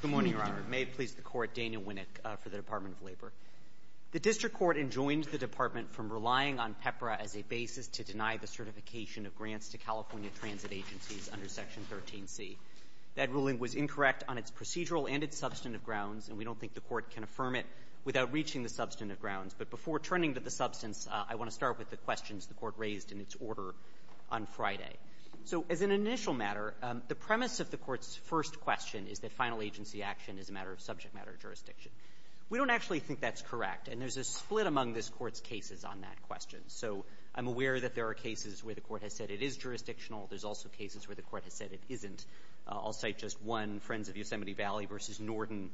Good morning, Your Honor. May it please the Court, Daniel Winnick for the Department of Labor. The District Court enjoined the Department from relying on PEPRA as a basis to deny the certification of grants to California transit agencies under Section 13C. That ruling was incorrect on its procedural and its substantive grounds, and we don't think the Court can affirm it without reaching the substantive grounds. But before turning to the substance, I want to start with the questions the Court raised in its order on Friday. So as an initial matter, the premise of the Court's first question is that final agency action is a matter of subject matter jurisdiction. We don't actually think that's correct, and there's a split among this Court's cases on that question. So I'm aware that there are cases where the Court has said it is jurisdictional. There's also cases where the Court has said it isn't. I'll cite just one, Friends of Yosemite Valley v. Norton,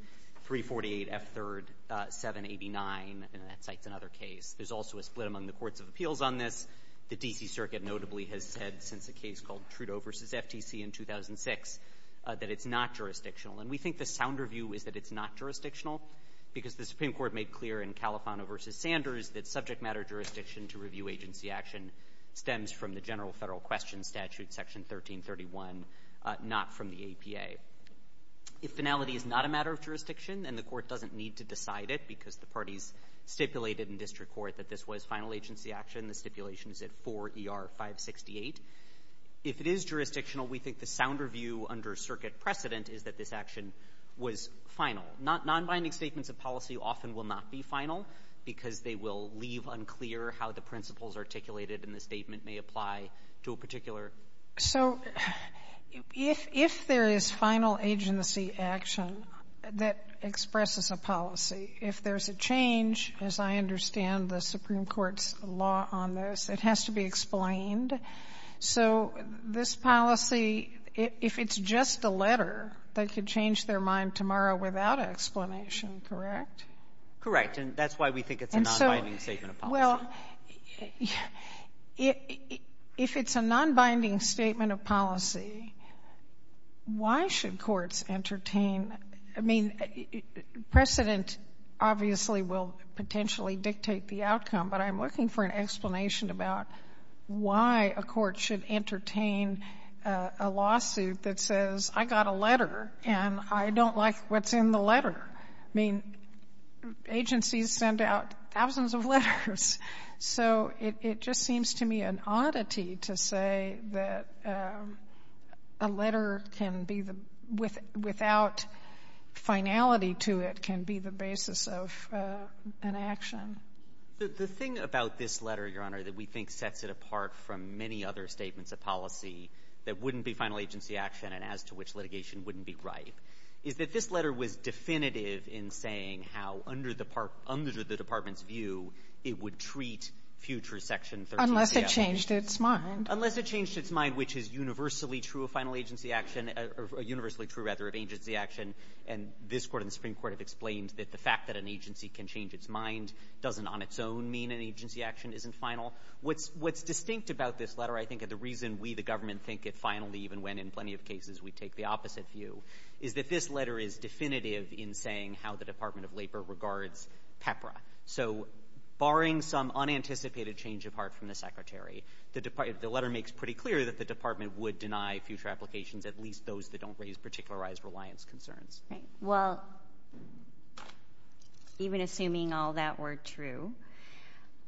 348 F. 3rd, 789, and that cites another case. There's also a split among the Courts of Appeals on this. The D.C. Circuit notably has said since a case called Trudeau v. FTC in 2006 that it's not jurisdictional. And we think the sounder view is that it's not jurisdictional because the Supreme Court made clear in Califano v. Sanders that subject matter jurisdiction to review agency action stems from the general federal question statute, Section 1331, not from the APA. If finality is not a matter of jurisdiction and the Court doesn't need to decide it because the parties stipulated in district court that this was final agency action, the stipulation is at 4ER568, if it is jurisdictional, we think the sounder view under circuit precedent is that this action was final. Nonbinding statements of policy often will not be final because they will leave unclear how the principles articulated in the statement may apply to a particular. Sotomayor. So if there is final agency action that expresses a policy, if there's a change, as I understand the Supreme Court's law on this, it has to be explained. So this policy, if it's just a letter, they could change their mind tomorrow without an explanation, correct? Correct. And that's why we think it's a nonbinding statement of policy. Well, if it's a nonbinding statement of policy, why should courts entertain, I mean, precedent obviously will potentially dictate the outcome, but I'm looking for an explanation about why a court should entertain a lawsuit that says I got a letter and I don't like what's in the letter. I mean, agencies send out thousands of letters. So it just seems to me an oddity to say that a letter can be the — without finality to it can be the basis of an action. The thing about this letter, Your Honor, that we think sets it apart from many other statements of policy that wouldn't be final agency action and as to which litigation wouldn't be right, is that this letter was definitive in saying how under the department's view it would treat future Section 13CL. Unless it changed its mind. Unless it changed its mind, which is universally true of final agency action — or universally true, rather, of agency action. And this Court and the Supreme Court have explained that the fact that an agency can change its mind doesn't on its own mean an agency action isn't final. What's distinct about this letter, I think, and the reason we, the government, think it finally even when in plenty of cases we take the opposite view, is that this letter is definitive in saying how the Department of Labor regards PEPRA. So barring some unanticipated change of heart from the Secretary, the letter makes pretty clear that the department would deny future applications, at least those that don't raise particularized reliance concerns. Well, even assuming all that were true,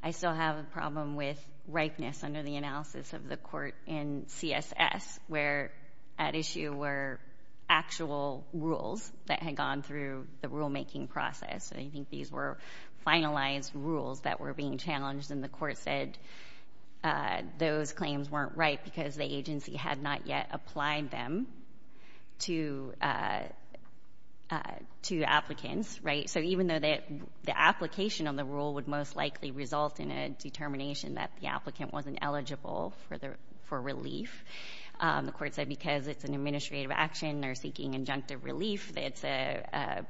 I still have a problem with ripeness under the SS, where at issue were actual rules that had gone through the rulemaking process. I think these were finalized rules that were being challenged, and the Court said those claims weren't right because the agency had not yet applied them to applicants, right? So even though the application on the rule would most likely result in a determination that the applicant wasn't eligible for relief, the Court said because it's an administrative action, they're seeking injunctive relief, it's a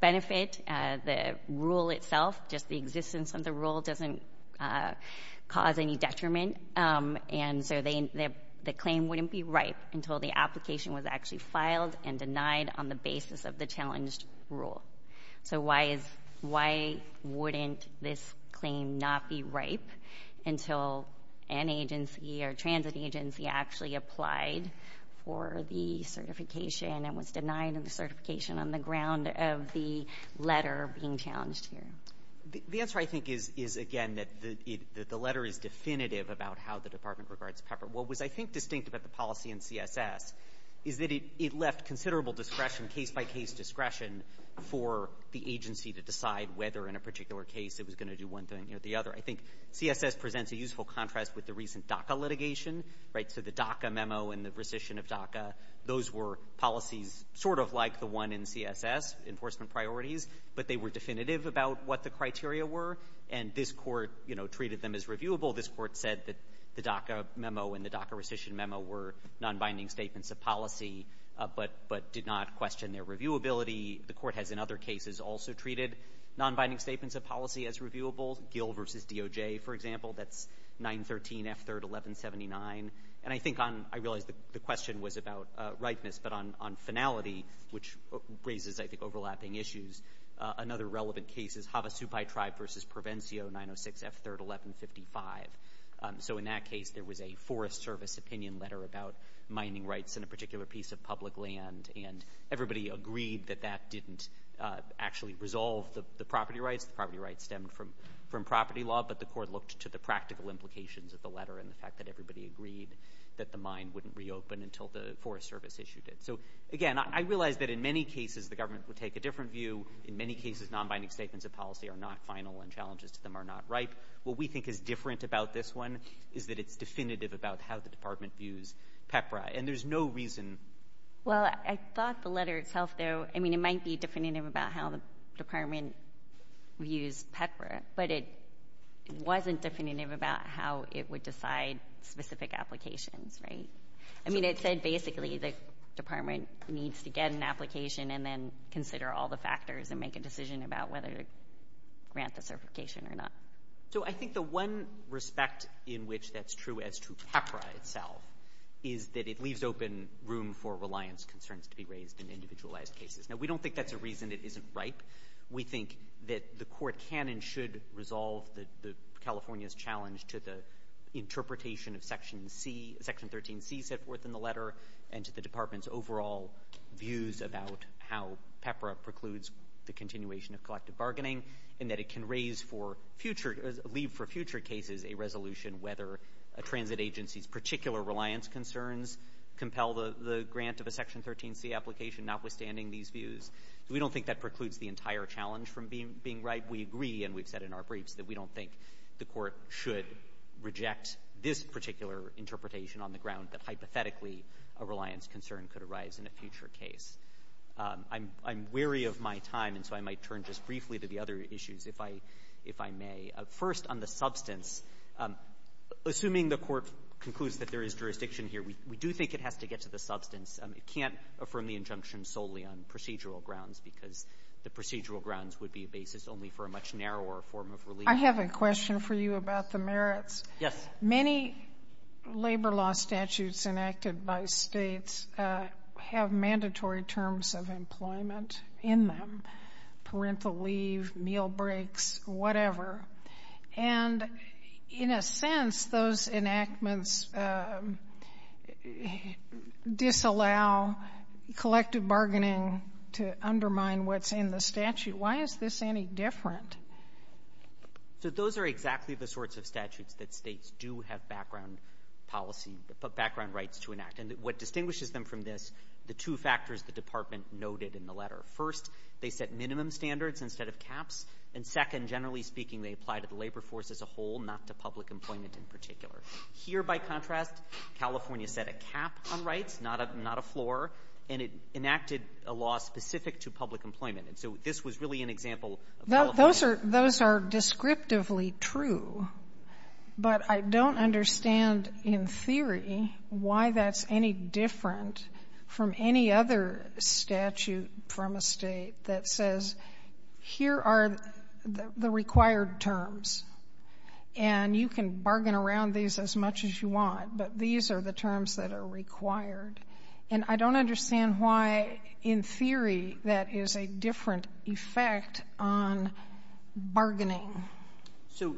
benefit, the rule itself, just the existence of the rule doesn't cause any detriment, and so the claim wouldn't be ripe until the application was actually filed and denied on the basis of the challenged rule. So why wouldn't this claim not be ripe until an agency or transit agency actually applied for the certification and was denied the certification on the ground of the letter being challenged here? The answer, I think, is, again, that the letter is definitive about how the department regards PEPRA. What was, I think, distinct about the policy in CSS is that it left considerable discretion, case-by-case discretion, for the agency to decide whether in a particular case it was going to do one thing or the other. I think CSS presents a useful contrast with the recent DACA litigation, right? So the DACA memo and the rescission of DACA, those were policies sort of like the one in CSS, enforcement priorities, but they were definitive about what the criteria were, and this Court, you know, treated them as reviewable. This Court said that the DACA memo and the DACA rescission memo were nonbinding statements of policy but did not question their reviewability. The Court has, in other cases, also treated nonbinding statements of policy as reviewable. Gill v. DOJ, for example, that's 913 F3rd 1179. And I think on – I realize the question was about ripeness, but on finality, which raises, I think, overlapping issues, another relevant case is Havasupai Tribe v. Provencio 906 F3rd 1155. So in that case, there was a Forest Service opinion letter about mining rights in a particular piece of public land, and everybody agreed that that didn't actually resolve the property rights. The property rights stemmed from property law, but the Court looked to the practical implications of the letter and the fact that everybody agreed that the mine wouldn't reopen until the Forest Service issued it. So, again, I realize that in many cases, the government would take a different view. In many cases, nonbinding statements of policy are not final and challenges to them are not ripe. What we think is different about this one is that it's definitive about how the Department views PEPRA, and there's no reason – Well, I thought the letter itself, though – I mean, it might be definitive about how the Department views PEPRA, but it wasn't definitive about how it would decide specific applications, right? I mean, it said basically the Department needs to get an application and then consider all the factors and make a decision about whether to grant the certification or not. So I think the one respect in which that's true as to PEPRA itself is that it leaves open room for reliance concerns to be raised in individualized cases. Now, we don't think that's a reason it isn't ripe. We think that the Court can and should resolve California's challenge to the interpretation of Section 13C set forth in the letter and to the Department's overall views about how PEPRA precludes the continuation of collective bargaining and that it can raise for future – leave for future cases a resolution whether a transit agency's particular reliance concerns compel the grant of a Section 13C application, notwithstanding these views. We don't think that precludes the entire challenge from being ripe. We agree, and we've said in our briefs, that we don't think the Court should reject this particular interpretation on the ground that hypothetically a reliance concern could I'm wary of my time, and so I might turn just briefly to the other issues, if I may. First, on the substance, assuming the Court concludes that there is jurisdiction here, we do think it has to get to the substance. It can't affirm the injunction solely on procedural grounds because the procedural grounds would be a basis only for a much narrower form of relief. I have a question for you about the merits. Yes. Many labor law statutes enacted by states have mandatory terms of employment in them, parental leave, meal breaks, whatever, and in a sense, those enactments disallow collective bargaining to undermine what's in the statute. Why is this any different? So those are exactly the sorts of statutes that states do have background policy or background rights to enact. And what distinguishes them from this, the two factors the Department noted in the letter. First, they set minimum standards instead of caps, and second, generally speaking, they apply to the labor force as a whole, not to public employment in particular. Here, by contrast, California set a cap on rights, not a floor, and it enacted a law specific to public employment. And so this was really an example of California. Those are descriptively true, but I don't understand in theory why that's any different from any other statute from a State that says, here are the required terms, and you can bargain around these as much as you want, but these are the terms that are required. And I don't understand why, in theory, that is a different effect on bargaining. So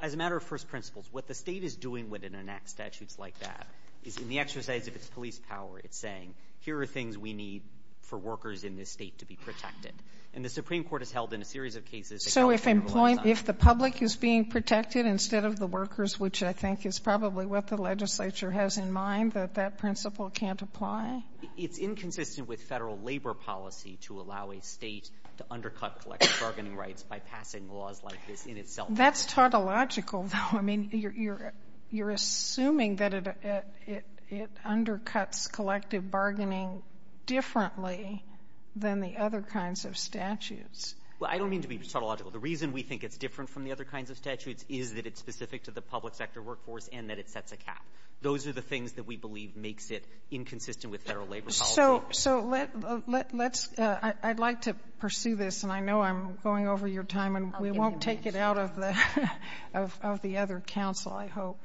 as a matter of first principles, what the State is doing when it enacts statutes like that is, in the exercise of its police power, it's saying, here are things we need for workers in this State to be protected. And the Supreme Court has held in a series of cases that California has not. So if the public is being protected instead of the workers, which I think is probably what the legislature has in mind, that that principle can't apply? It's inconsistent with Federal labor policy to allow a State to undercut collective bargaining rights by passing laws like this in itself. That's tautological, though. I mean, you're assuming that it undercuts collective bargaining differently than the other kinds of statutes. Well, I don't mean to be tautological. The reason we think it's different from the other kinds of statutes is that it's a cap. Those are the things that we believe makes it inconsistent with Federal labor policy. So let's ‑‑ I'd like to pursue this, and I know I'm going over your time, and we won't take it out of the other council, I hope.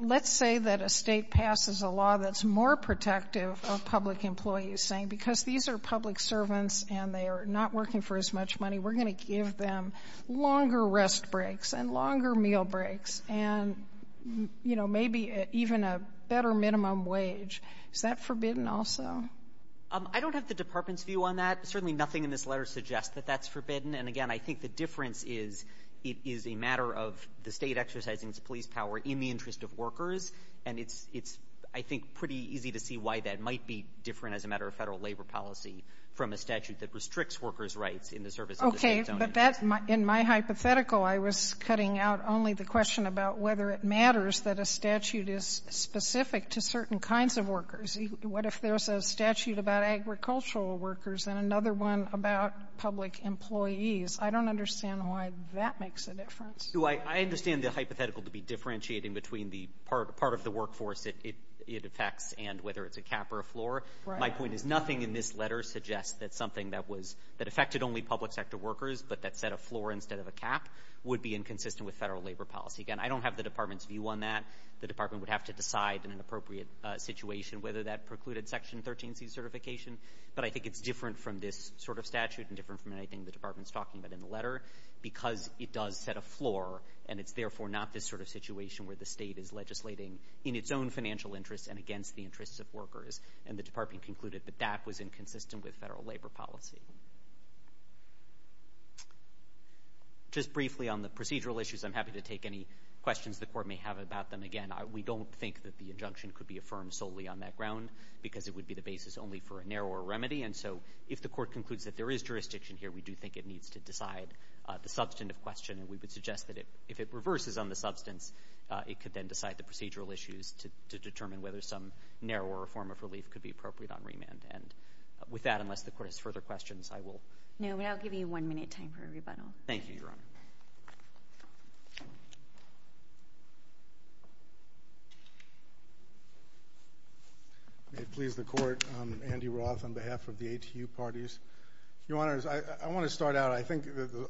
Let's say that a State passes a law that's more protective of public employees, saying, because these are public servants and they are not working for as much money, we're going to give them longer rest breaks and longer meal breaks. And, you know, maybe even a better minimum wage. Is that forbidden also? I don't have the Department's view on that. Certainly nothing in this letter suggests that that's forbidden. And, again, I think the difference is it is a matter of the State exercising its police power in the interest of workers, and it's ‑‑ it's, I think, pretty easy to see why that might be different as a matter of Federal labor policy from a statute that restricts workers' rights in the service of the State's own interests. In my hypothetical, I was cutting out only the question about whether it matters that a statute is specific to certain kinds of workers. What if there's a statute about agricultural workers and another one about public employees? I don't understand why that makes a difference. I understand the hypothetical to be differentiating between the part of the workforce it affects and whether it's a cap or a floor. My point is nothing in this letter suggests that something that was ‑‑ that set a floor instead of a cap would be inconsistent with Federal labor policy. Again, I don't have the Department's view on that. The Department would have to decide in an appropriate situation whether that precluded Section 13C certification. But I think it's different from this sort of statute and different from anything the Department's talking about in the letter because it does set a floor, and it's, therefore, not this sort of situation where the State is legislating in its own financial interests and against the interests of workers. And the Department concluded that that was inconsistent with Federal labor policy. Just briefly on the procedural issues, I'm happy to take any questions the Court may have about them. Again, we don't think that the injunction could be affirmed solely on that ground because it would be the basis only for a narrower remedy. And so if the Court concludes that there is jurisdiction here, we do think it needs to decide the substantive question. And we would suggest that if it reverses on the substance, it could then decide the procedural issues to determine whether some narrower form of relief could be appropriate on remand. And with that, unless the Court has further questions, I will... No, but I'll give you one minute time for a rebuttal. Thank you, Your Honor. May it please the Court, I'm Andy Roth on behalf of the ATU parties. Your Honors, I want to start out. I think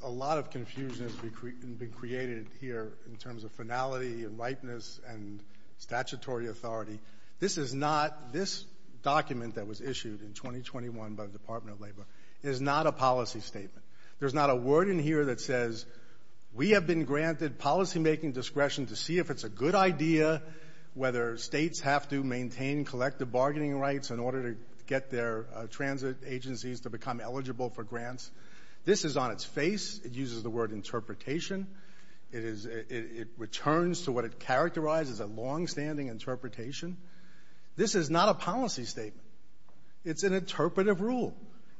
a lot of confusion has been created here in terms of finality and statutory authority. This is not, this document that was issued in 2021 by the Department of Labor is not a policy statement. There's not a word in here that says we have been granted policymaking discretion to see if it's a good idea whether states have to maintain collective bargaining rights in order to get their transit agencies to become eligible for grants. This is on its face. It uses the word interpretation. It is, it returns to what it characterized as a longstanding interpretation. This is not a policy statement. It's an interpretive rule.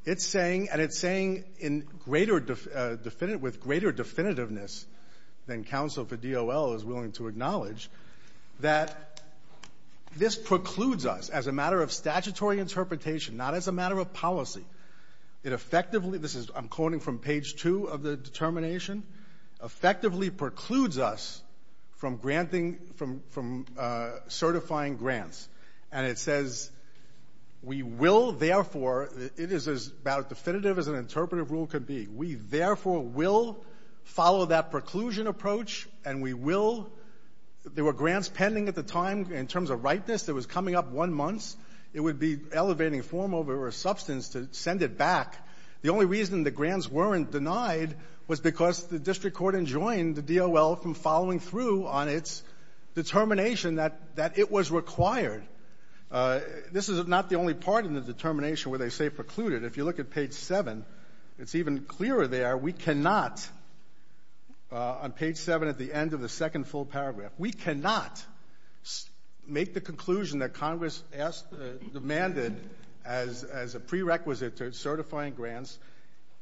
It's saying, and it's saying in greater definitive, with greater definitiveness than counsel for DOL is willing to acknowledge, that this precludes us as a matter of statutory interpretation, not as a matter of policy. It effectively, this is, I'm quoting from page two of the determination, effectively precludes us from granting, from certifying grants. And it says, we will therefore, it is about as definitive as an interpretive rule could be, we therefore will follow that preclusion approach and we will, there were grants pending at the time in terms of ripeness that was coming up one month. It would be elevating form over substance to send it back. The only reason the grants weren't denied was because the district court enjoined the DOL from following through on its determination that it was required. This is not the only part in the determination where they say precluded. If you look at page seven, it's even clearer there. We cannot, on page seven at the end of the second full paragraph, we cannot make the conclusion that Congress asked, demanded as a prerequisite to certifying grants,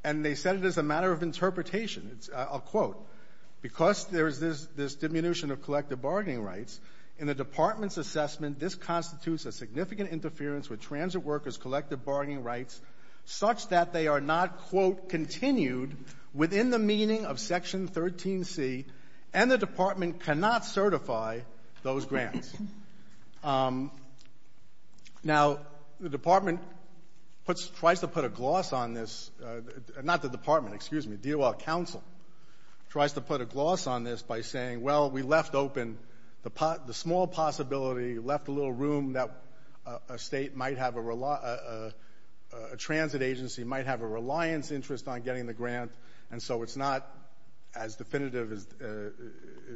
and they said it is a matter of interpretation. I'll quote. Because there is this diminution of collective bargaining rights, in the Department's assessment, this constitutes a significant interference with transit workers' collective bargaining rights such that they are not, quote, continued within the meaning of Section 13C, and the Department cannot certify those grants. Now, the Department puts, tries to put a gloss on this, not the Department, excuse me, DOL counsel, tries to put a gloss on this by saying, well, we left open the small possibility, left a little room that a State might have a, a transit agency might have a reliance interest on getting the grant, and so it's not as definitive as,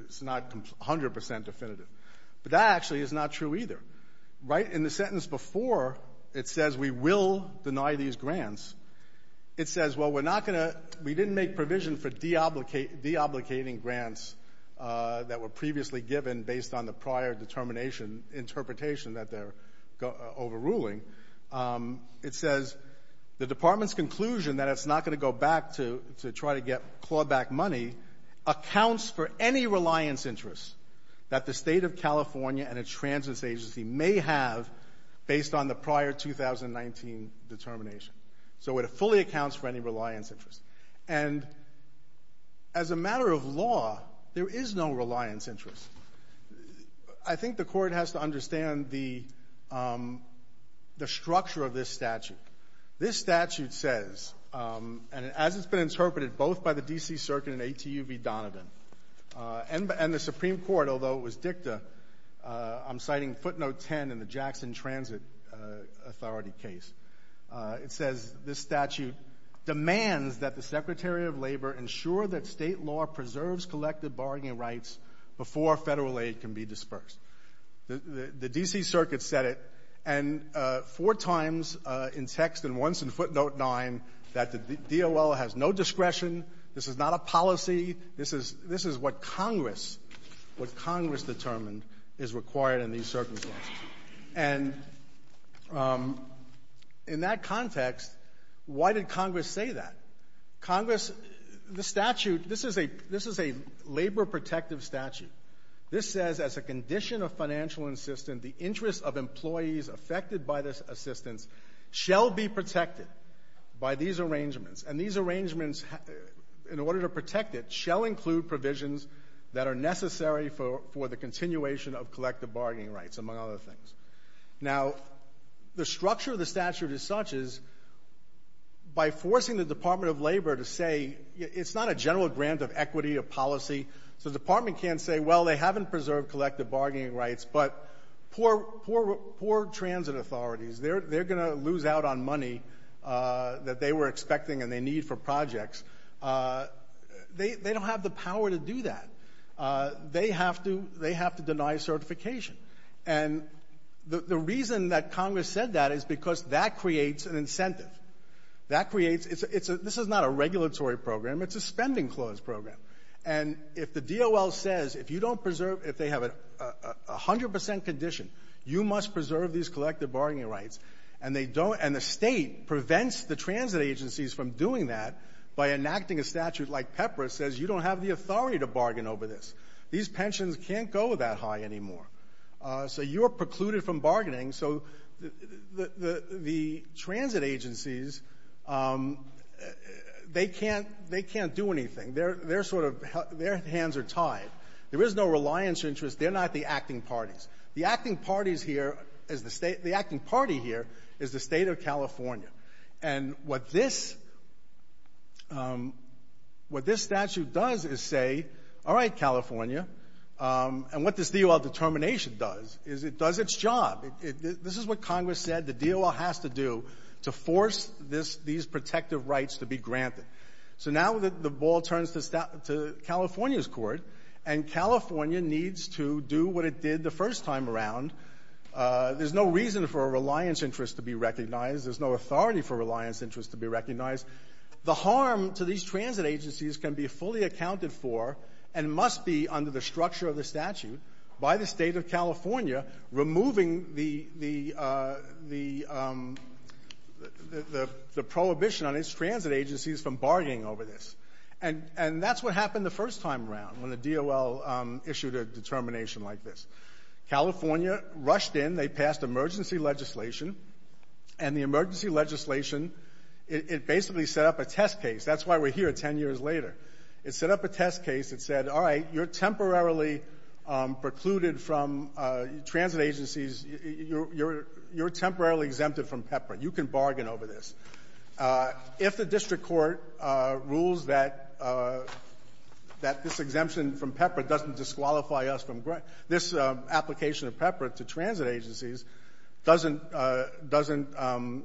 it's not 100% definitive. But that actually is not true either. Right in the sentence before, it says we will deny these grants. It says, well, we're not going to, we didn't make provision for deobligating grants that were previously given based on the prior determination, interpretation that they're overruling. It says the Department's conclusion that it's not going to go back to, to try to get clawback money accounts for any reliance interest that the State of California and a transit agency may have based on the prior 2019 determination. So it fully accounts for any reliance interest. And as a matter of law, there is no reliance interest. I think the Court has to understand the, the structure of this statute. This statute says, and as it's been interpreted both by the D.C. Circuit and A.T.U. v. Donovan, and the Supreme Court, although it was dicta, I'm citing footnote 10 in the Jackson Transit Authority case. It says this statute demands that the Secretary of Labor ensure that State law preserves collective bargaining rights before Federal aid can be dispersed. The D.C. Circuit said it, and four times in text, and once in footnote 9, that the DOL has no discretion. This is not a policy. This is, this is what Congress, what Congress determined is required in these circumstances. And in that context, why did Congress say that? Congress, the statute, this is a, this is a labor protective statute. This says as a condition of financial insistence, the interest of employees affected by this assistance shall be protected by these arrangements. And these arrangements, in order to protect it, shall include provisions that are necessary for, for the continuation of collective bargaining rights, among other things. Now, the structure of the statute as such is, by forcing the Department of Labor to say, it's not a general grant of equity or policy, so the Department can't say, well, they haven't preserved collective bargaining rights, but poor, poor, poor transit authorities, they're, they're going to lose out on money that they were expecting and they need for projects. They, they don't have the power to do that. They have to, they have to deny certification. And the, the reason that Congress said that is because that creates an incentive. That creates, it's a, it's a, this is not a regulatory program, it's a spending clause program. And if the DOL says, if you don't preserve, if they have a, a, a hundred percent condition, you must preserve these collective bargaining rights, and they don't and the State prevents the transit agencies from doing that by enacting a statute like PEPRA says you don't have the authority to bargain over this. These pensions can't go that high anymore. So you're precluded from bargaining. So the, the, the transit agencies, they can't, they can't do anything. They're, they're sort of, their hands are tied. There is no reliance interest. They're not the acting parties. The acting parties here is the State, the acting party here is the State of California. And what this, what this statute does is say, all right, California. And what this DOL determination does is it does its job. This is what Congress said the DOL has to do to force this, these protective rights to be granted. So now the ball turns to California's court, and California needs to do what it did the first time around. There's no reason for a reliance interest to be recognized. There's no authority for reliance interest to be recognized. The harm to these transit agencies can be fully accounted for and must be under the structure of the statute by the State of California removing the, the, the prohibition on its transit agencies from bargaining over this. And that's what happened the first time around when the DOL issued a determination like this. California rushed in. They passed emergency legislation. And the emergency legislation, it, it basically set up a test case. That's why we're here 10 years later. It set up a test case that said, all right, you're temporarily precluded from transit agencies. You're, you're, you're temporarily exempted from PEPRA. You can bargain over this. If the district court rules that, that this exemption from PEPRA doesn't disqualify us from grant this application of PEPRA to transit agencies doesn't doesn't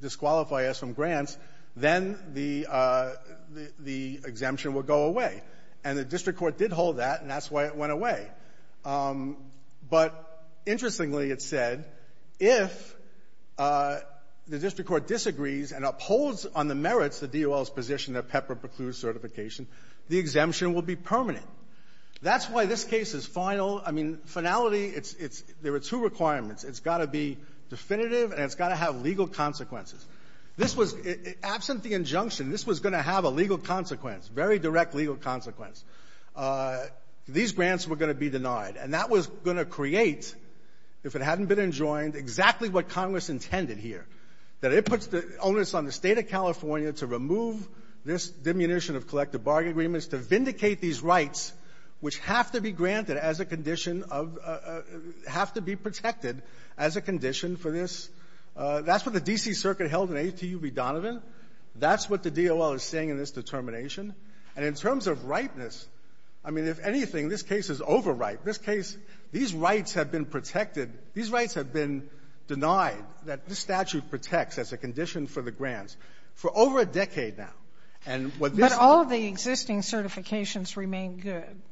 disqualify us from grants, then the, the, the exemption will go away. And the district court did hold that, and that's why it went away. But interestingly, it said, if the district court disagrees and upholds on the merits the DOL's position that PEPRA precludes certification, the exemption will be permanent. That's why this case is final. I mean, finality, it's, it's, there are two requirements. It's got to be definitive, and it's got to have legal consequences. This was, absent the injunction, this was going to have a legal consequence, very direct legal consequence. These grants were going to be denied. And that was going to create, if it hadn't been enjoined, exactly what Congress intended here, that it puts the onus on the State of California to remove this diminution of collective bargain agreements, to vindicate these rights, which have to be granted as a condition of, have to be protected as a condition for this. That's what the D.C. Circuit held in A.T.U. v. Donovan. That's what the DOL is saying in this determination. And in terms of ripeness, I mean, if anything, this case is over-ripe. This case, these rights have been protected. These rights have been denied, that this statute protects as a condition for the grants All the existing certifications remain good.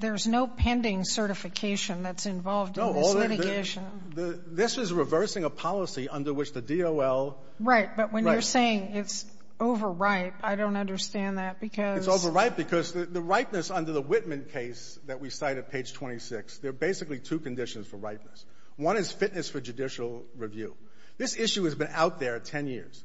There's no pending certification that's involved in this litigation. No. This is reversing a policy under which the DOL — Right. Right. But when you're saying it's over-ripe, I don't understand that, because — It's over-ripe because the ripeness under the Whitman case that we cite at page 26, there are basically two conditions for ripeness. One is fitness for judicial review. This issue has been out there 10 years,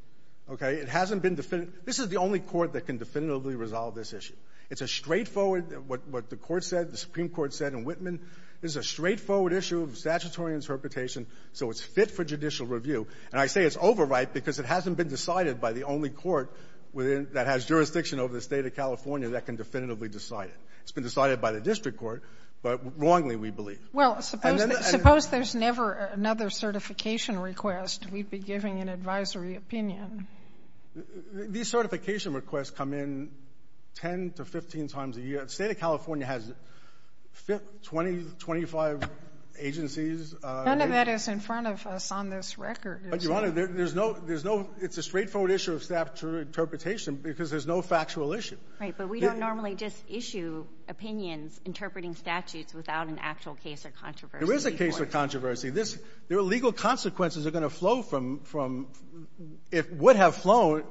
okay? It hasn't been definitive. This is the only court that can definitively resolve this issue. It's a straightforward — what the Court said, the Supreme Court said in Whitman, this is a straightforward issue of statutory interpretation, so it's fit for judicial review. And I say it's over-ripe because it hasn't been decided by the only court within — that has jurisdiction over the State of California that can definitively decide it. It's been decided by the district court, but wrongly, we believe. And then — Well, suppose there's never another certification request. We'd be giving an advisory opinion. These certification requests come in 10 to 15 times a year. The State of California has 20, 25 agencies — None of that is in front of us on this record. But, Your Honor, there's no — there's no — it's a straightforward issue of statutory interpretation because there's no factual issue. Right, but we don't normally just issue opinions interpreting statutes without an actual case or controversy. There is a case or controversy. This — there are legal consequences that are going to flow from — from — if — would have flown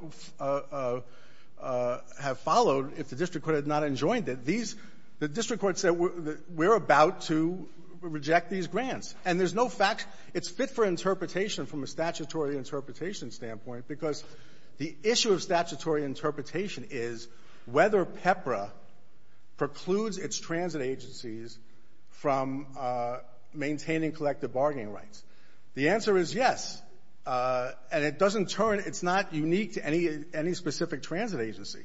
— have followed if the district court had not enjoined it. These — the district court said we're about to reject these grants. And there's no fact — it's fit for interpretation from a statutory interpretation standpoint because the issue of statutory interpretation is whether PEPRA precludes its transit agencies from maintaining collective bargaining rights. The answer is yes. And it doesn't turn — it's not unique to any specific transit agency.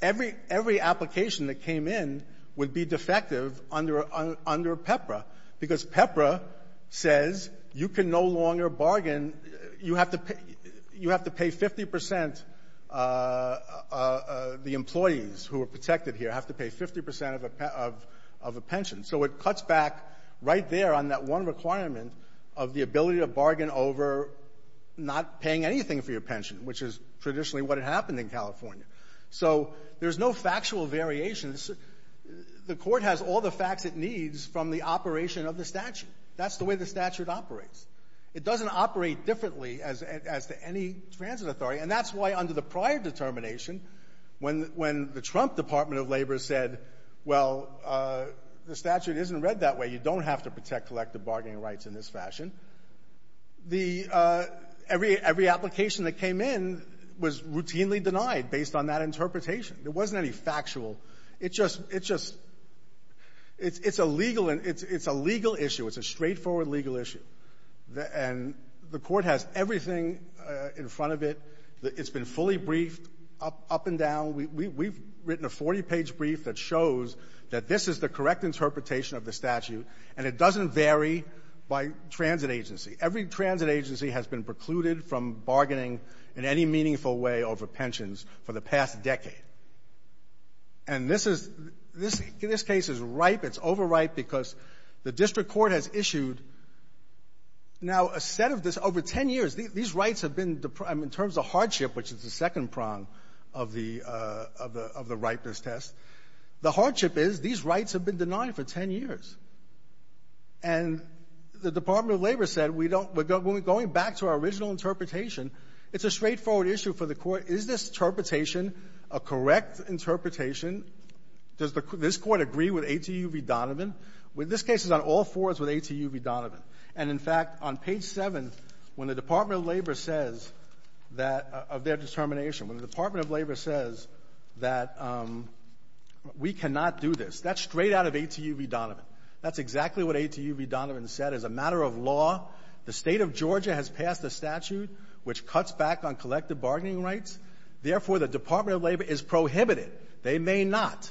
Every — every application that came in would be defective under PEPRA because PEPRA says you can no longer bargain. You have to — you have to pay 50 percent — the employees who are protected here have to pay 50 percent of a pension. So it cuts back right there on that one requirement of the ability to bargain over not paying anything for your pension, which is traditionally what had happened in California. So there's no factual variation. The Court has all the facts it needs from the operation of the statute. That's the way the statute operates. It doesn't operate differently as to any transit authority. And that's why under the prior determination, when — when the Trump Department of Labor said, well, the statute isn't read that way, you don't have to protect collective bargaining rights in this fashion, the — every application that came in was routinely denied based on that interpretation. There wasn't any factual. It just — it just — it's a legal — it's a legal issue. It's a straightforward legal issue. And the Court has everything in front of it. It's been fully briefed up and down. We've written a 40-page brief that shows that this is the correct interpretation of the statute, and it doesn't vary by transit agency. Every transit agency has been precluded from bargaining in any meaningful way over pensions for the past decade. And this is — this case is ripe. It's overripe because the district court has issued, now, a set of this — over 10 years, these rights have been — I mean, in terms of hardship, which is the second prong of the — of the — of the ripeness test, the hardship is these rights have been denied for 10 years. And the Department of Labor said we don't — we're going back to our original interpretation. It's a straightforward issue for the Court. Is this interpretation a correct interpretation? Does the — does this Court agree with A.T.U. v. Donovan? This case is on all fours with A.T.U. v. Donovan. And, in fact, on page 7, when the Department of Labor says that — of their determination, when the Department of Labor says that we cannot do this, that's straight out of A.T.U. v. Donovan. That's exactly what A.T.U. v. Donovan said. As a matter of law, the State of Georgia has passed a statute which cuts back on collective bargaining rights. Therefore, the Department of Labor is prohibited. They may not.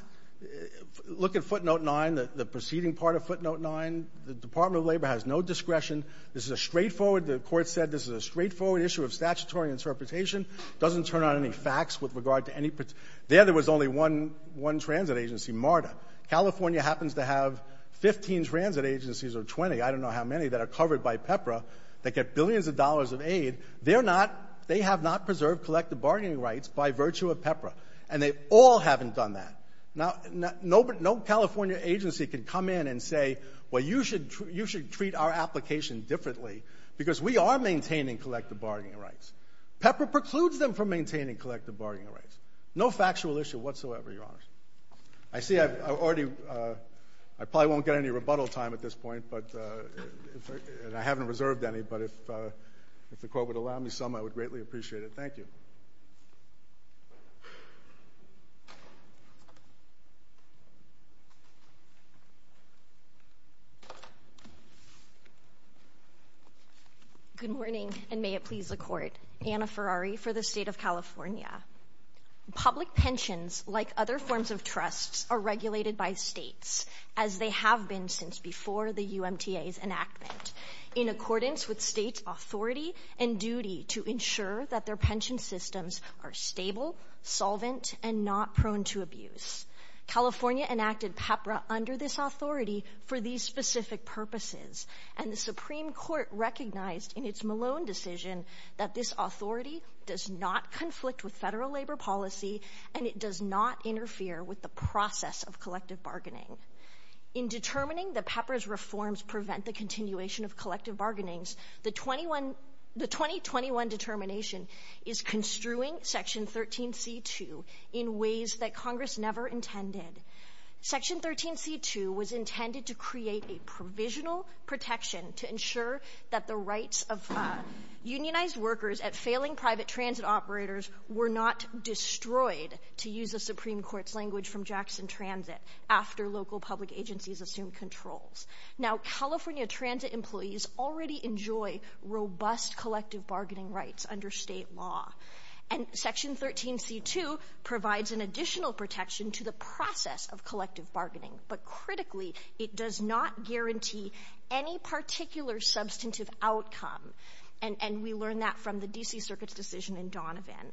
Look at footnote 9, the proceeding part of footnote 9. The Department of Labor has no discretion. This is a straightforward — the Court said this is a straightforward issue of statutory interpretation. Doesn't turn on any facts with regard to any — there, there was only one transit agency, MARTA. California happens to have 15 transit agencies or 20, I don't know how many, that are covered by PEPRA that get billions of dollars of aid. They're not — they have not preserved collective bargaining rights by virtue of that. They all haven't done that. Now, no California agency can come in and say, well, you should treat our application differently because we are maintaining collective bargaining rights. PEPRA precludes them from maintaining collective bargaining rights. No factual issue whatsoever, Your Honors. I see I've already — I probably won't get any rebuttal time at this point, but — and I haven't reserved any. But if the Court would allow me some, I would greatly appreciate it. Thank you. Good morning, and may it please the Court. Anna Ferrari for the State of California. Public pensions, like other forms of trusts, are regulated by states, as they have been since before the UMTA's enactment, in accordance with states' authority and duty to ensure that their pension systems are stable, solvent, and not prone to abuse. California enacted PEPRA under this authority for these specific purposes, and the Supreme Court recognized in its Malone decision that this authority does not conflict with federal labor policy, and it does not interfere with the process of collective bargaining. In determining that PEPRA's reforms prevent the continuation of collective bargainings, the 2021 determination is construing Section 13c2 in ways that Congress never intended. Section 13c2 was intended to create a provisional protection to ensure that the rights of unionized workers at failing private transit operators were not destroyed, to use the Supreme Court's language from Jackson Transit, after local public agencies assumed controls. Now, California transit employees already enjoy robust collective bargaining rights under state law, and Section 13c2 provides an additional protection to the process of collective bargaining, but critically, it does not guarantee any particular substantive outcome, and we learn that from the D.C. Circuit's decision in Donovan.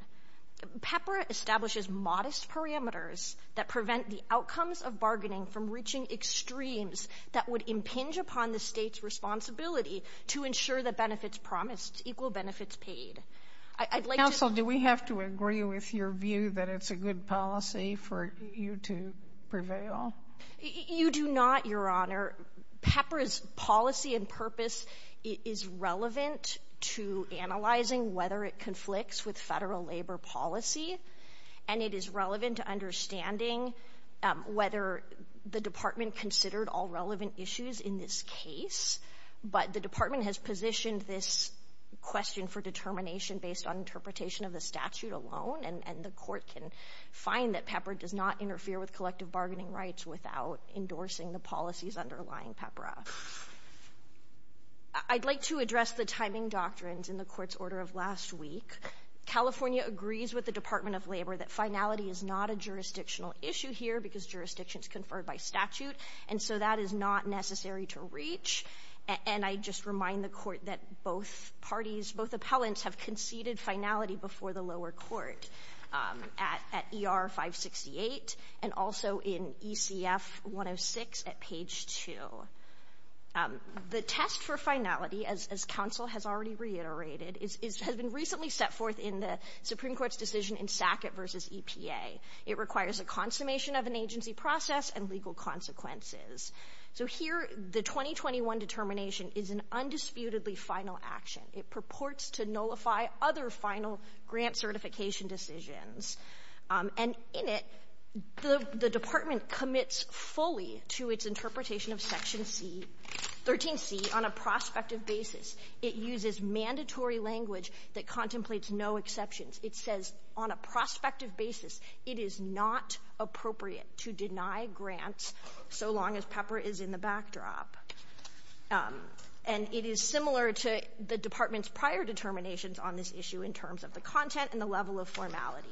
PEPRA establishes modest parameters that prevent the outcomes of bargaining from reaching extremes that would impinge upon the state's responsibility to ensure the benefits promised, equal benefits paid. I'd like to... Counsel, do we have to agree with your view that it's a good policy for you to prevail? You do not, Your Honor. PEPRA's policy and purpose is relevant to analyzing whether it conflicts with federal relevant issues in this case, but the Department has positioned this question for determination based on interpretation of the statute alone, and the Court can find that PEPRA does not interfere with collective bargaining rights without endorsing the policies underlying PEPRA. I'd like to address the timing doctrines in the Court's order of last week. California agrees with the Department of Labor that finality is not a jurisdictional issue here because jurisdiction is conferred by statute, and so that is not necessary to reach. And I just remind the Court that both parties, both appellants have conceded finality before the lower court at ER 568 and also in ECF 106 at page 2. The test for finality, as Counsel has already reiterated, has been recently set forth in the Supreme Court's decision in Sackett v. EPA. It requires a consummation of an agency process and legal consequences. So here, the 2021 determination is an undisputedly final action. It purports to nullify other final grant certification decisions. And in it, the Department commits fully to its interpretation of Section C, 13C, on a prospective basis. It uses mandatory language that contemplates no exceptions. It says, on a prospective basis, it is not appropriate to deny grants so long as PEPRA is in the backdrop. And it is similar to the Department's prior determinations on this issue in terms of the content and the level of formality.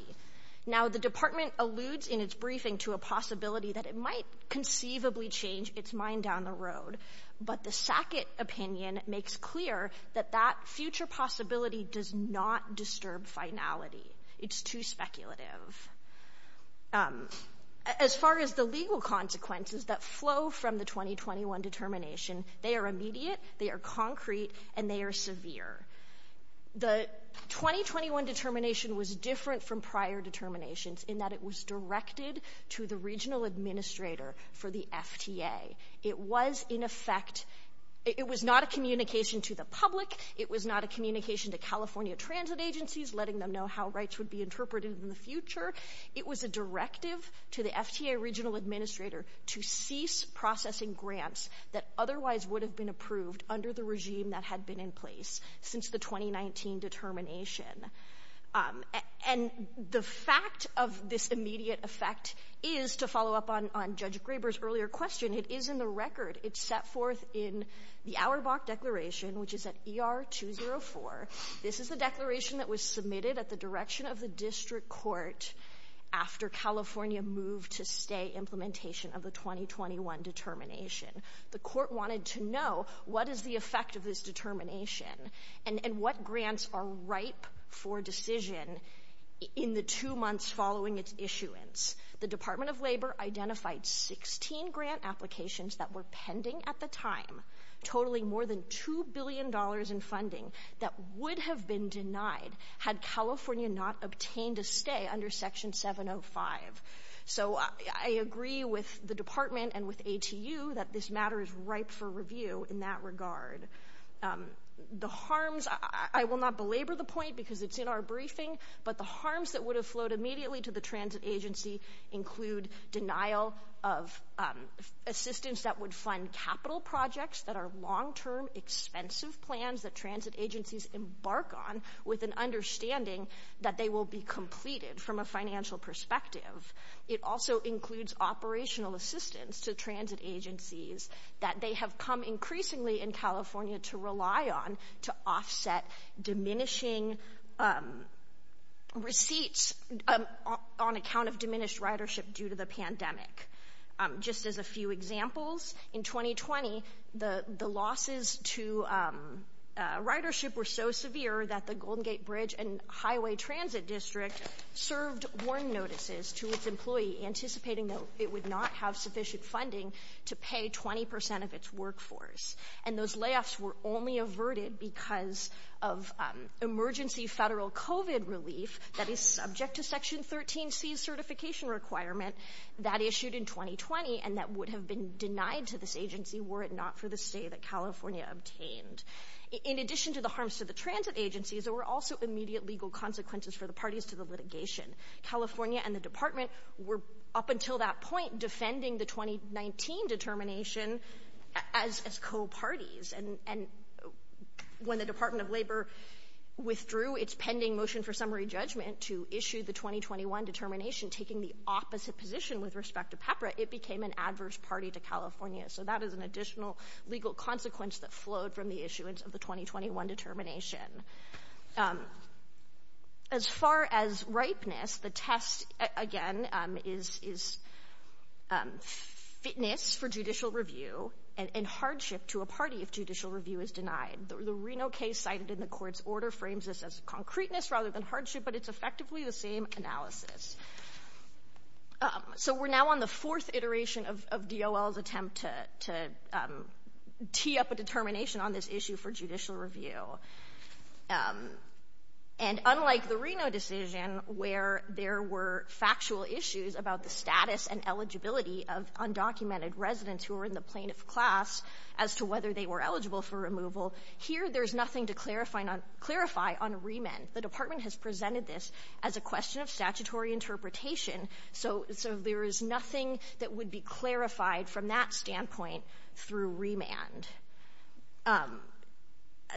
Now, the Department alludes in its briefing to a possibility that it might conceivably change its mind down the road, but the Sackett opinion makes clear that that future possibility does not disturb finality. It's too speculative. As far as the legal consequences that flow from the 2021 determination, they are immediate, they are concrete, and they are severe. The 2021 determination was different from prior determinations in that it was directed to the regional administrator for the FTA. It was, in effect, it was not a communication to the public. It was not a communication to California transit agencies, letting them know how rights would be interpreted in the future. It was a directive to the FTA regional administrator to cease processing grants that otherwise would have been approved under the regime that had been in place since the 2019 determination. And the fact of this immediate effect is, to follow up on Judge Graber's earlier question, it is in the record. It's set forth in the Auerbach Declaration, which is at ER 204. This is the declaration that was submitted at the direction of the district court after California moved to stay implementation of the 2021 determination. The court wanted to know what is the effect of this determination and what grants are ripe for decision in the two months following its issuance. The Department of Labor identified 16 grant applications that were pending at the time, totaling more than $2 billion in funding that would have been denied had California not obtained a stay under Section 705. So, I agree with the department and with ATU that this matter is ripe for review in that regard. The harms, I will not belabor the point because it's in our briefing, but the harms that would afloat immediately to the transit agency include denial of assistance that would fund capital projects that are long-term, expensive plans that transit agencies embark on with an understanding that they will be completed from a financial perspective. It also includes operational assistance to transit agencies that they have come increasingly in California to rely on to offset diminishing receipts on account of diminished ridership due to the pandemic. Just as a few examples, in 2020, the losses to ridership were so severe that the Golden Gate Bridge and Highway Transit District served warn notices to its employee anticipating that it would not have sufficient funding to pay 20% of its workforce. And those layoffs were only averted because of emergency federal COVID relief that is subject to Section 13C certification requirement that issued in 2020 and that would have been denied to this agency were it not for the stay that California obtained. In addition to the harms to the transit agencies, there were also immediate legal consequences for the parties to the litigation. California and the Department were, up until that point, defending the 2019 determination as co-parties. And when the Department of Labor withdrew its pending motion for summary judgment to issue the 2021 determination taking the opposite position with respect to PEPRA, it became an adverse party to California. So that is an additional legal consequence that flowed from the issuance of the 2021 determination. As far as ripeness, the test, again, is fitness for judicial review and hardship to a party if judicial review is denied. The Reno case cited in the court's order frames this as concreteness rather than hardship, but it's effectively the same analysis. So we're now on the fourth iteration of DOL's attempt to tee up a determination on this issue for judicial review. And unlike the Reno decision where there were factual issues about the status and eligibility of undocumented residents who were in the plaintiff's class as to whether they were eligible for removal, here there's nothing to clarify on remand. The Department has presented this as a question of statutory interpretation, so there is nothing that would be clarified from that standpoint through remand.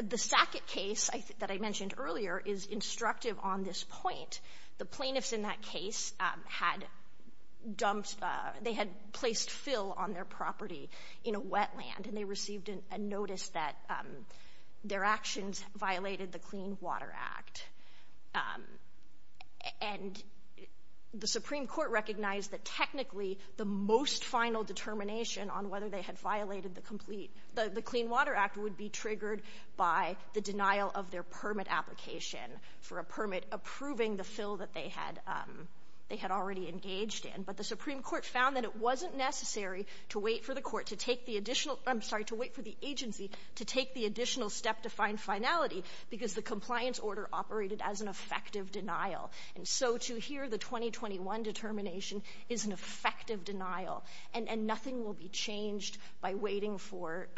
The Sackett case that I mentioned earlier is instructive on this point. The plaintiffs in that case had dumped, they had placed fill on their property in a wetland and they received a notice that their actions violated the Clean Water Act. And the Supreme Court recognized that technically the most final determination on whether they had violated the complete, the Clean Water Act would be triggered by the denial of their permit application for a permit approving the fill that they had already engaged in. But the Supreme Court found that it wasn't necessary to wait for the court to take the additional, I'm sorry, to wait for the agency to take the additional step to find finality because the compliance order operated as an effective denial. And so to hear the 2021 determination is an effective denial. And nothing will be changed by waiting for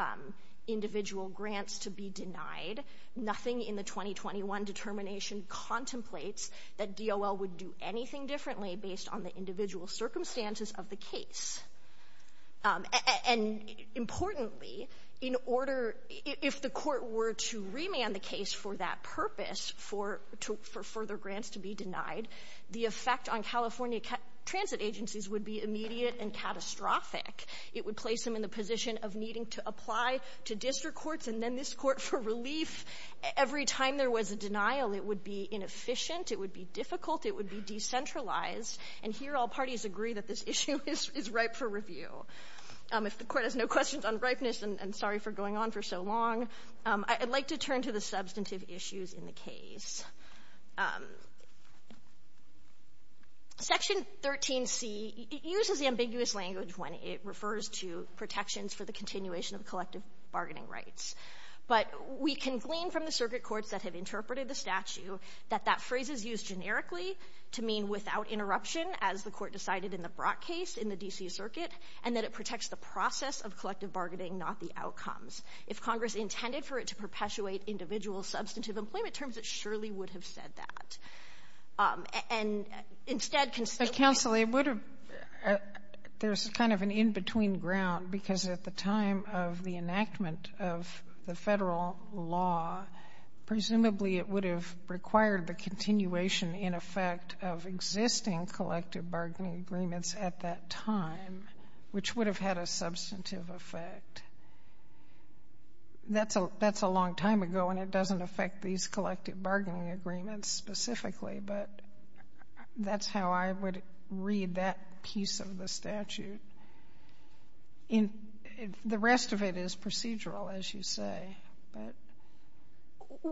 individual grants to be denied. Nothing in the 2021 determination contemplates that DOL would do anything differently based on the individual circumstances of the case. And importantly, in order, if the court were to remand the case for that purpose, for further grants to be denied, the effect on California transit agencies would be immediate and catastrophic. It would place them in the position of needing to apply to district courts and then this court for relief. Every time there was a denial, it would be inefficient. It would be difficult. It would be decentralized. And here all parties agree that this issue is ripe for review. If the court has no questions on ripeness, and sorry for going on for so long, I'd like to turn to the substantive issues in the case. Section 13C, it uses the ambiguous language when it refers to protections for the continuation of collective bargaining rights. But we can glean from the circuit courts that have interpreted the statute that that court decided in the Brock case in the D.C. circuit, and that it protects the process of collective bargaining, not the outcomes. If Congress intended for it to perpetuate individual substantive employment terms, it surely would have said that. And instead, constantly ---- Sotomayor, there's kind of an in-between ground, because at the time of the enactment of the Federal law, presumably it would have required the continuation, in effect, of existing collective bargaining agreements at that time, which would have had a substantive effect. That's a long time ago, and it doesn't affect these collective bargaining agreements specifically, but that's how I would read that piece of the statute. The rest of it is procedural, as you say.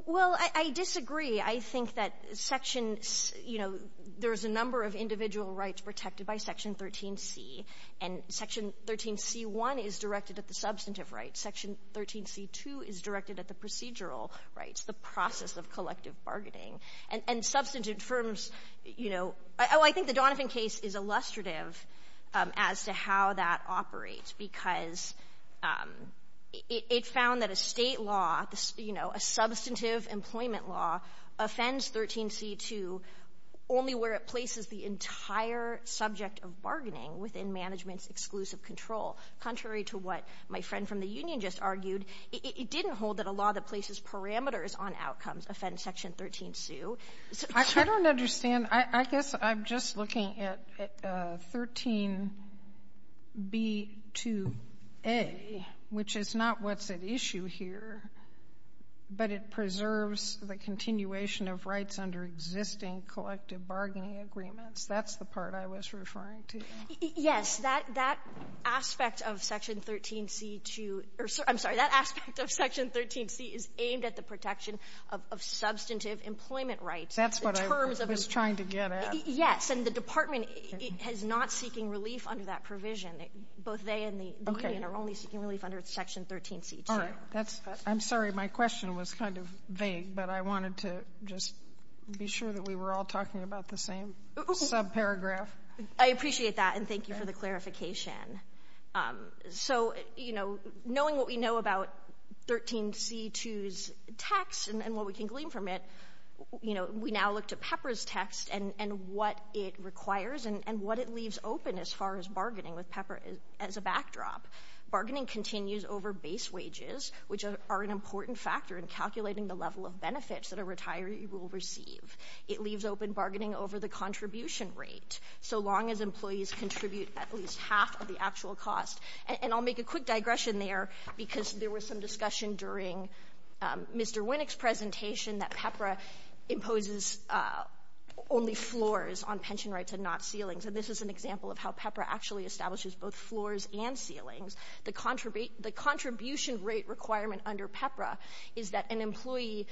Well, I disagree. I think that Section, you know, there's a number of individual rights protected by Section 13c. And Section 13c-1 is directed at the substantive rights. Section 13c-2 is directed at the procedural rights, the process of collective bargaining. And substantive firms, you know, I think the Donovan case is illustrative as to how that operates, because it found that a State law, you know, a substantive employment law, offends 13c-2 only where it places the entire subject of bargaining within management's exclusive control. Contrary to what my friend from the union just argued, it didn't hold that a law that places parameters on outcomes offends Section 13c. I don't understand. I guess I'm just looking at 13b-2a, which is not what's at issue here, but it preserves the continuation of rights under existing collective bargaining agreements. That's the part I was referring to. Yes. That aspect of Section 13c-2 or, I'm sorry, that aspect of Section 13c is aimed at the protection of substantive employment rights. That's what I was trying to get at. Yes. And the Department is not seeking relief under that provision. Both they and the union are only seeking relief under Section 13c-2. All right. I'm sorry. My question was kind of vague, but I wanted to just be sure that we were all talking about the same subparagraph. I appreciate that, and thank you for the clarification. So, you know, knowing what we know about 13c-2's text and what we can glean from it, you know, we now look to PEPRA's text and what it requires and what it leaves open as far as bargaining with PEPRA as a backdrop. Bargaining continues over base wages, which are an important factor in calculating the level of benefits that a retiree will receive. It leaves open bargaining over the contribution rate, so long as employees contribute at least half of the actual cost. And I'll make a quick digression there because there was some discussion during Mr. Winnick's presentation that PEPRA imposes only floors on pension rates and not ceilings. And this is an example of how PEPRA actually establishes both floors and ceilings. The contribution rate requirement under PEPRA is that an employee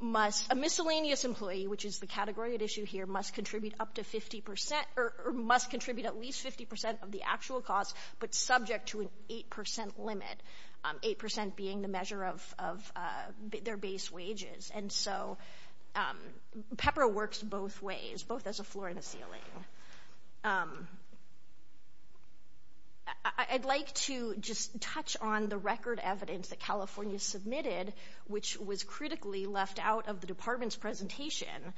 must — a miscellaneous employee, which is the category at issue here, must contribute up to 50 percent — or must contribute at least 50 percent of the actual cost, but subject to an 8 percent limit, 8 percent being the measure of their base wages. And so PEPRA works both ways, both as a floor and a ceiling. I'd like to just touch on the record evidence that California submitted, which was critically left out of the department's presentation.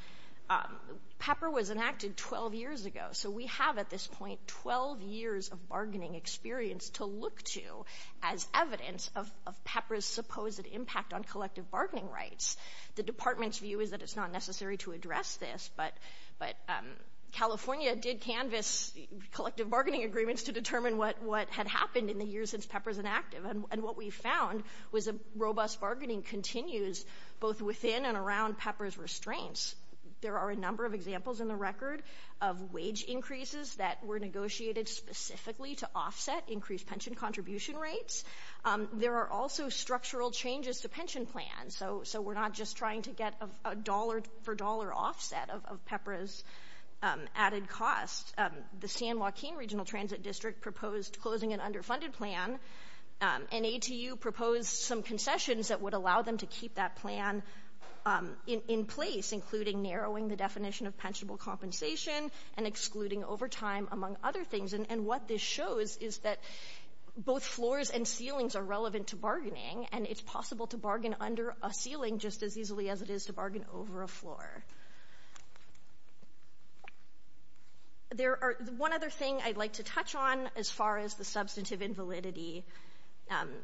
PEPRA was enacted 12 years ago, so we have at this point 12 years of bargaining experience to look to as evidence of PEPRA's supposed impact on collective bargaining rights. The department's view is that it's not necessary to address this, but California did canvas collective bargaining agreements to determine what had happened in the years since PEPRA was enacted. And what we found was a robust bargaining continues both within and around PEPRA's restraints. There are a number of examples in the record of wage increases that were negotiated specifically to offset increased pension contribution rates. There are also structural changes to pension plans, so we're not just trying to get a dollar-for-dollar offset of PEPRA's added costs. The San Joaquin Regional Transit District proposed closing an underfunded plan, and ATU proposed some concessions that would allow them to keep that plan in place, including narrowing the definition of pensionable compensation and excluding overtime, among other things. And what this shows is that both floors and ceilings are relevant to bargaining, and it's possible to bargain under a ceiling just as easily as it is to bargain over a floor. There are one other thing I'd like to touch on as far as the substantive invalidity.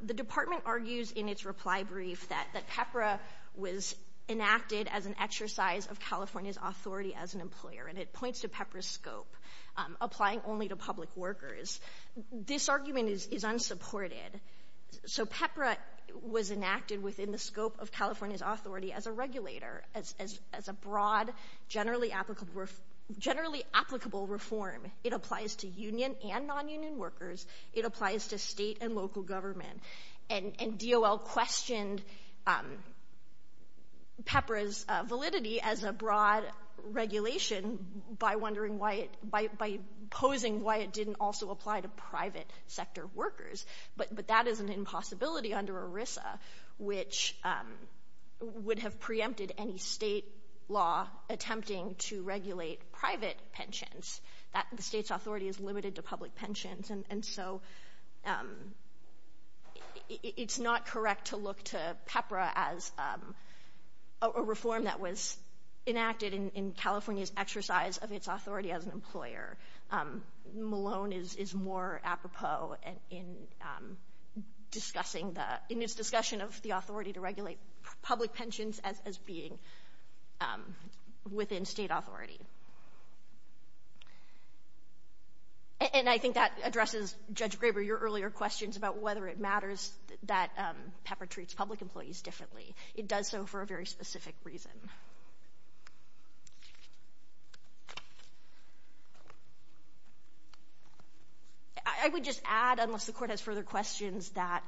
The department argues in its reply brief that PEPRA was enacted as an exercise of California's authority as an employer, and it points to PEPRA's scope, applying only to public workers. This argument is unsupported. So PEPRA was enacted within the scope of California's authority as a regulator, as a broad, generally applicable reform. It applies to union and nonunion workers. It applies to state and local government. And DOL questioned PEPRA's validity as a broad regulation by posing why it didn't also apply to private sector workers. But that is an impossibility under ERISA, which would have preempted any state law attempting to regulate private pensions. The state's authority is limited to public pensions, and so it's not correct to look to PEPRA as a reform that was enacted in California's exercise of its authority as an employer. Malone is more apropos in discussing the, in his discussion of the authority to regulate public pensions as being within state authority. And I think that addresses, Judge Graber, your earlier questions about whether it matters that PEPRA treats public employees differently. It does so for a very specific reason. I would just add, unless the Court has further questions, that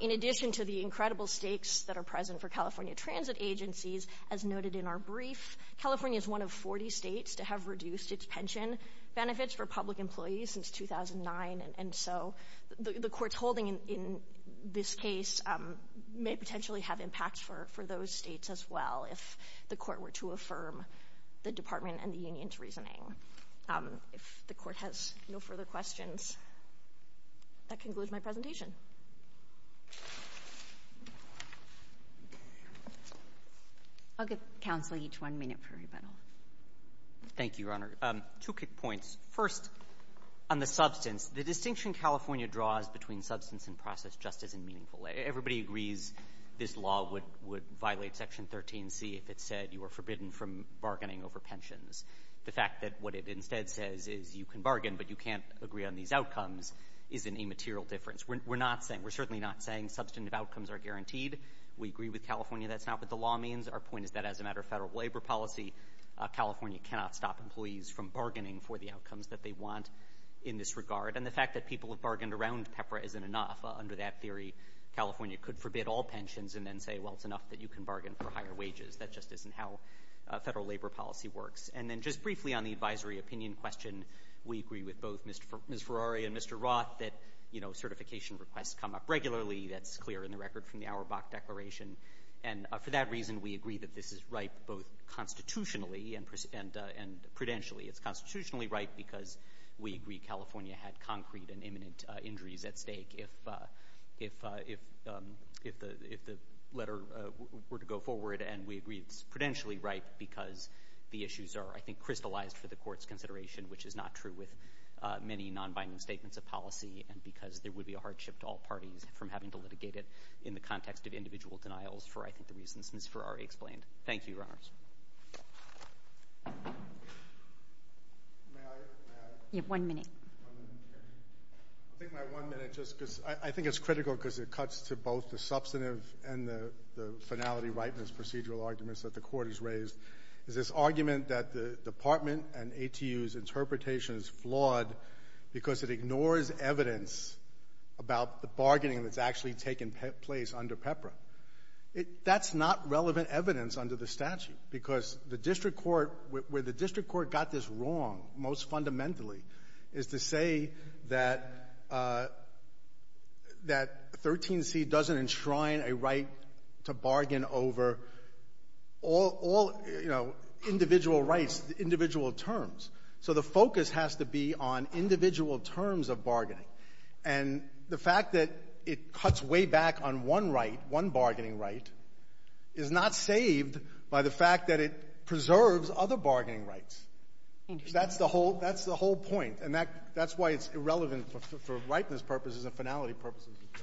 in addition to the incredible stakes that are present for California transit agencies, as noted in our brief, California is one of 40 states to have reduced its pension benefits for public employees since 2009, and so the Court's holding in this case may potentially have impacts for those states as well if the Court were to affirm the Department and the union's reasoning. If the Court has no further questions, that concludes my presentation. I'll give counsel each one minute for rebuttal. Thank you, Your Honor. Two quick points. First, on the substance, the distinction California draws between substance and process just isn't meaningful. Everybody agrees this law would violate Section 13C if it said you are forbidden from bargaining over pensions. The fact that what it instead says is you can bargain but you can't agree on these outcomes is an immaterial difference. We're certainly not saying substantive outcomes are guaranteed. We agree with California that's not what the law means. Our point is that as a matter of federal labor policy, California cannot stop employees from bargaining for the outcomes that they want in this regard. And the fact that people have bargained around PEPRA isn't enough. Under that theory, California could forbid all pensions and then say, well, it's enough that you can bargain for higher wages. That just isn't how federal labor policy works. And then just briefly on the advisory opinion question, we agree with both Ms. Ferrari and Mr. Roth that certification requests come up regularly. That's clear in the record from the Auerbach Declaration. And for that reason, we agree that this is right both constitutionally and prudentially. It's constitutionally right because we agree California had concrete and imminent injuries at stake if the letter were to go forward. And we agree it's prudentially right because the issues are, I think, crystallized for the Court's consideration, which is not true with many non-binding statements of policy and because there would be a hardship to all parties from having to litigate it in the context of individual denials for, I think, the reasons Ms. Ferrari explained. Thank you, Your Honors. One minute. I think my one minute just because I think it's critical because it cuts to both the substantive and the finality rightness procedural arguments that the Court has raised. There's this argument that the Department and ATU's interpretation is flawed because it ignores evidence about the bargaining that's actually taken place under PEPRA. That's not relevant evidence under the statute because the district court, where the district court got this wrong most fundamentally is to say that 13C doesn't enshrine a right to bargain over all, you know, individual rights, individual terms. So the focus has to be on individual terms of bargaining. And the fact that it cuts way back on one right, one bargaining right, is not saved by the fact that it preserves other bargaining rights. That's the whole point. And that's why it's irrelevant for rightness purposes and finality purposes as well.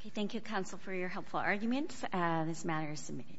Okay. Thank you, Counsel, for your helpful arguments. This matter is submitted.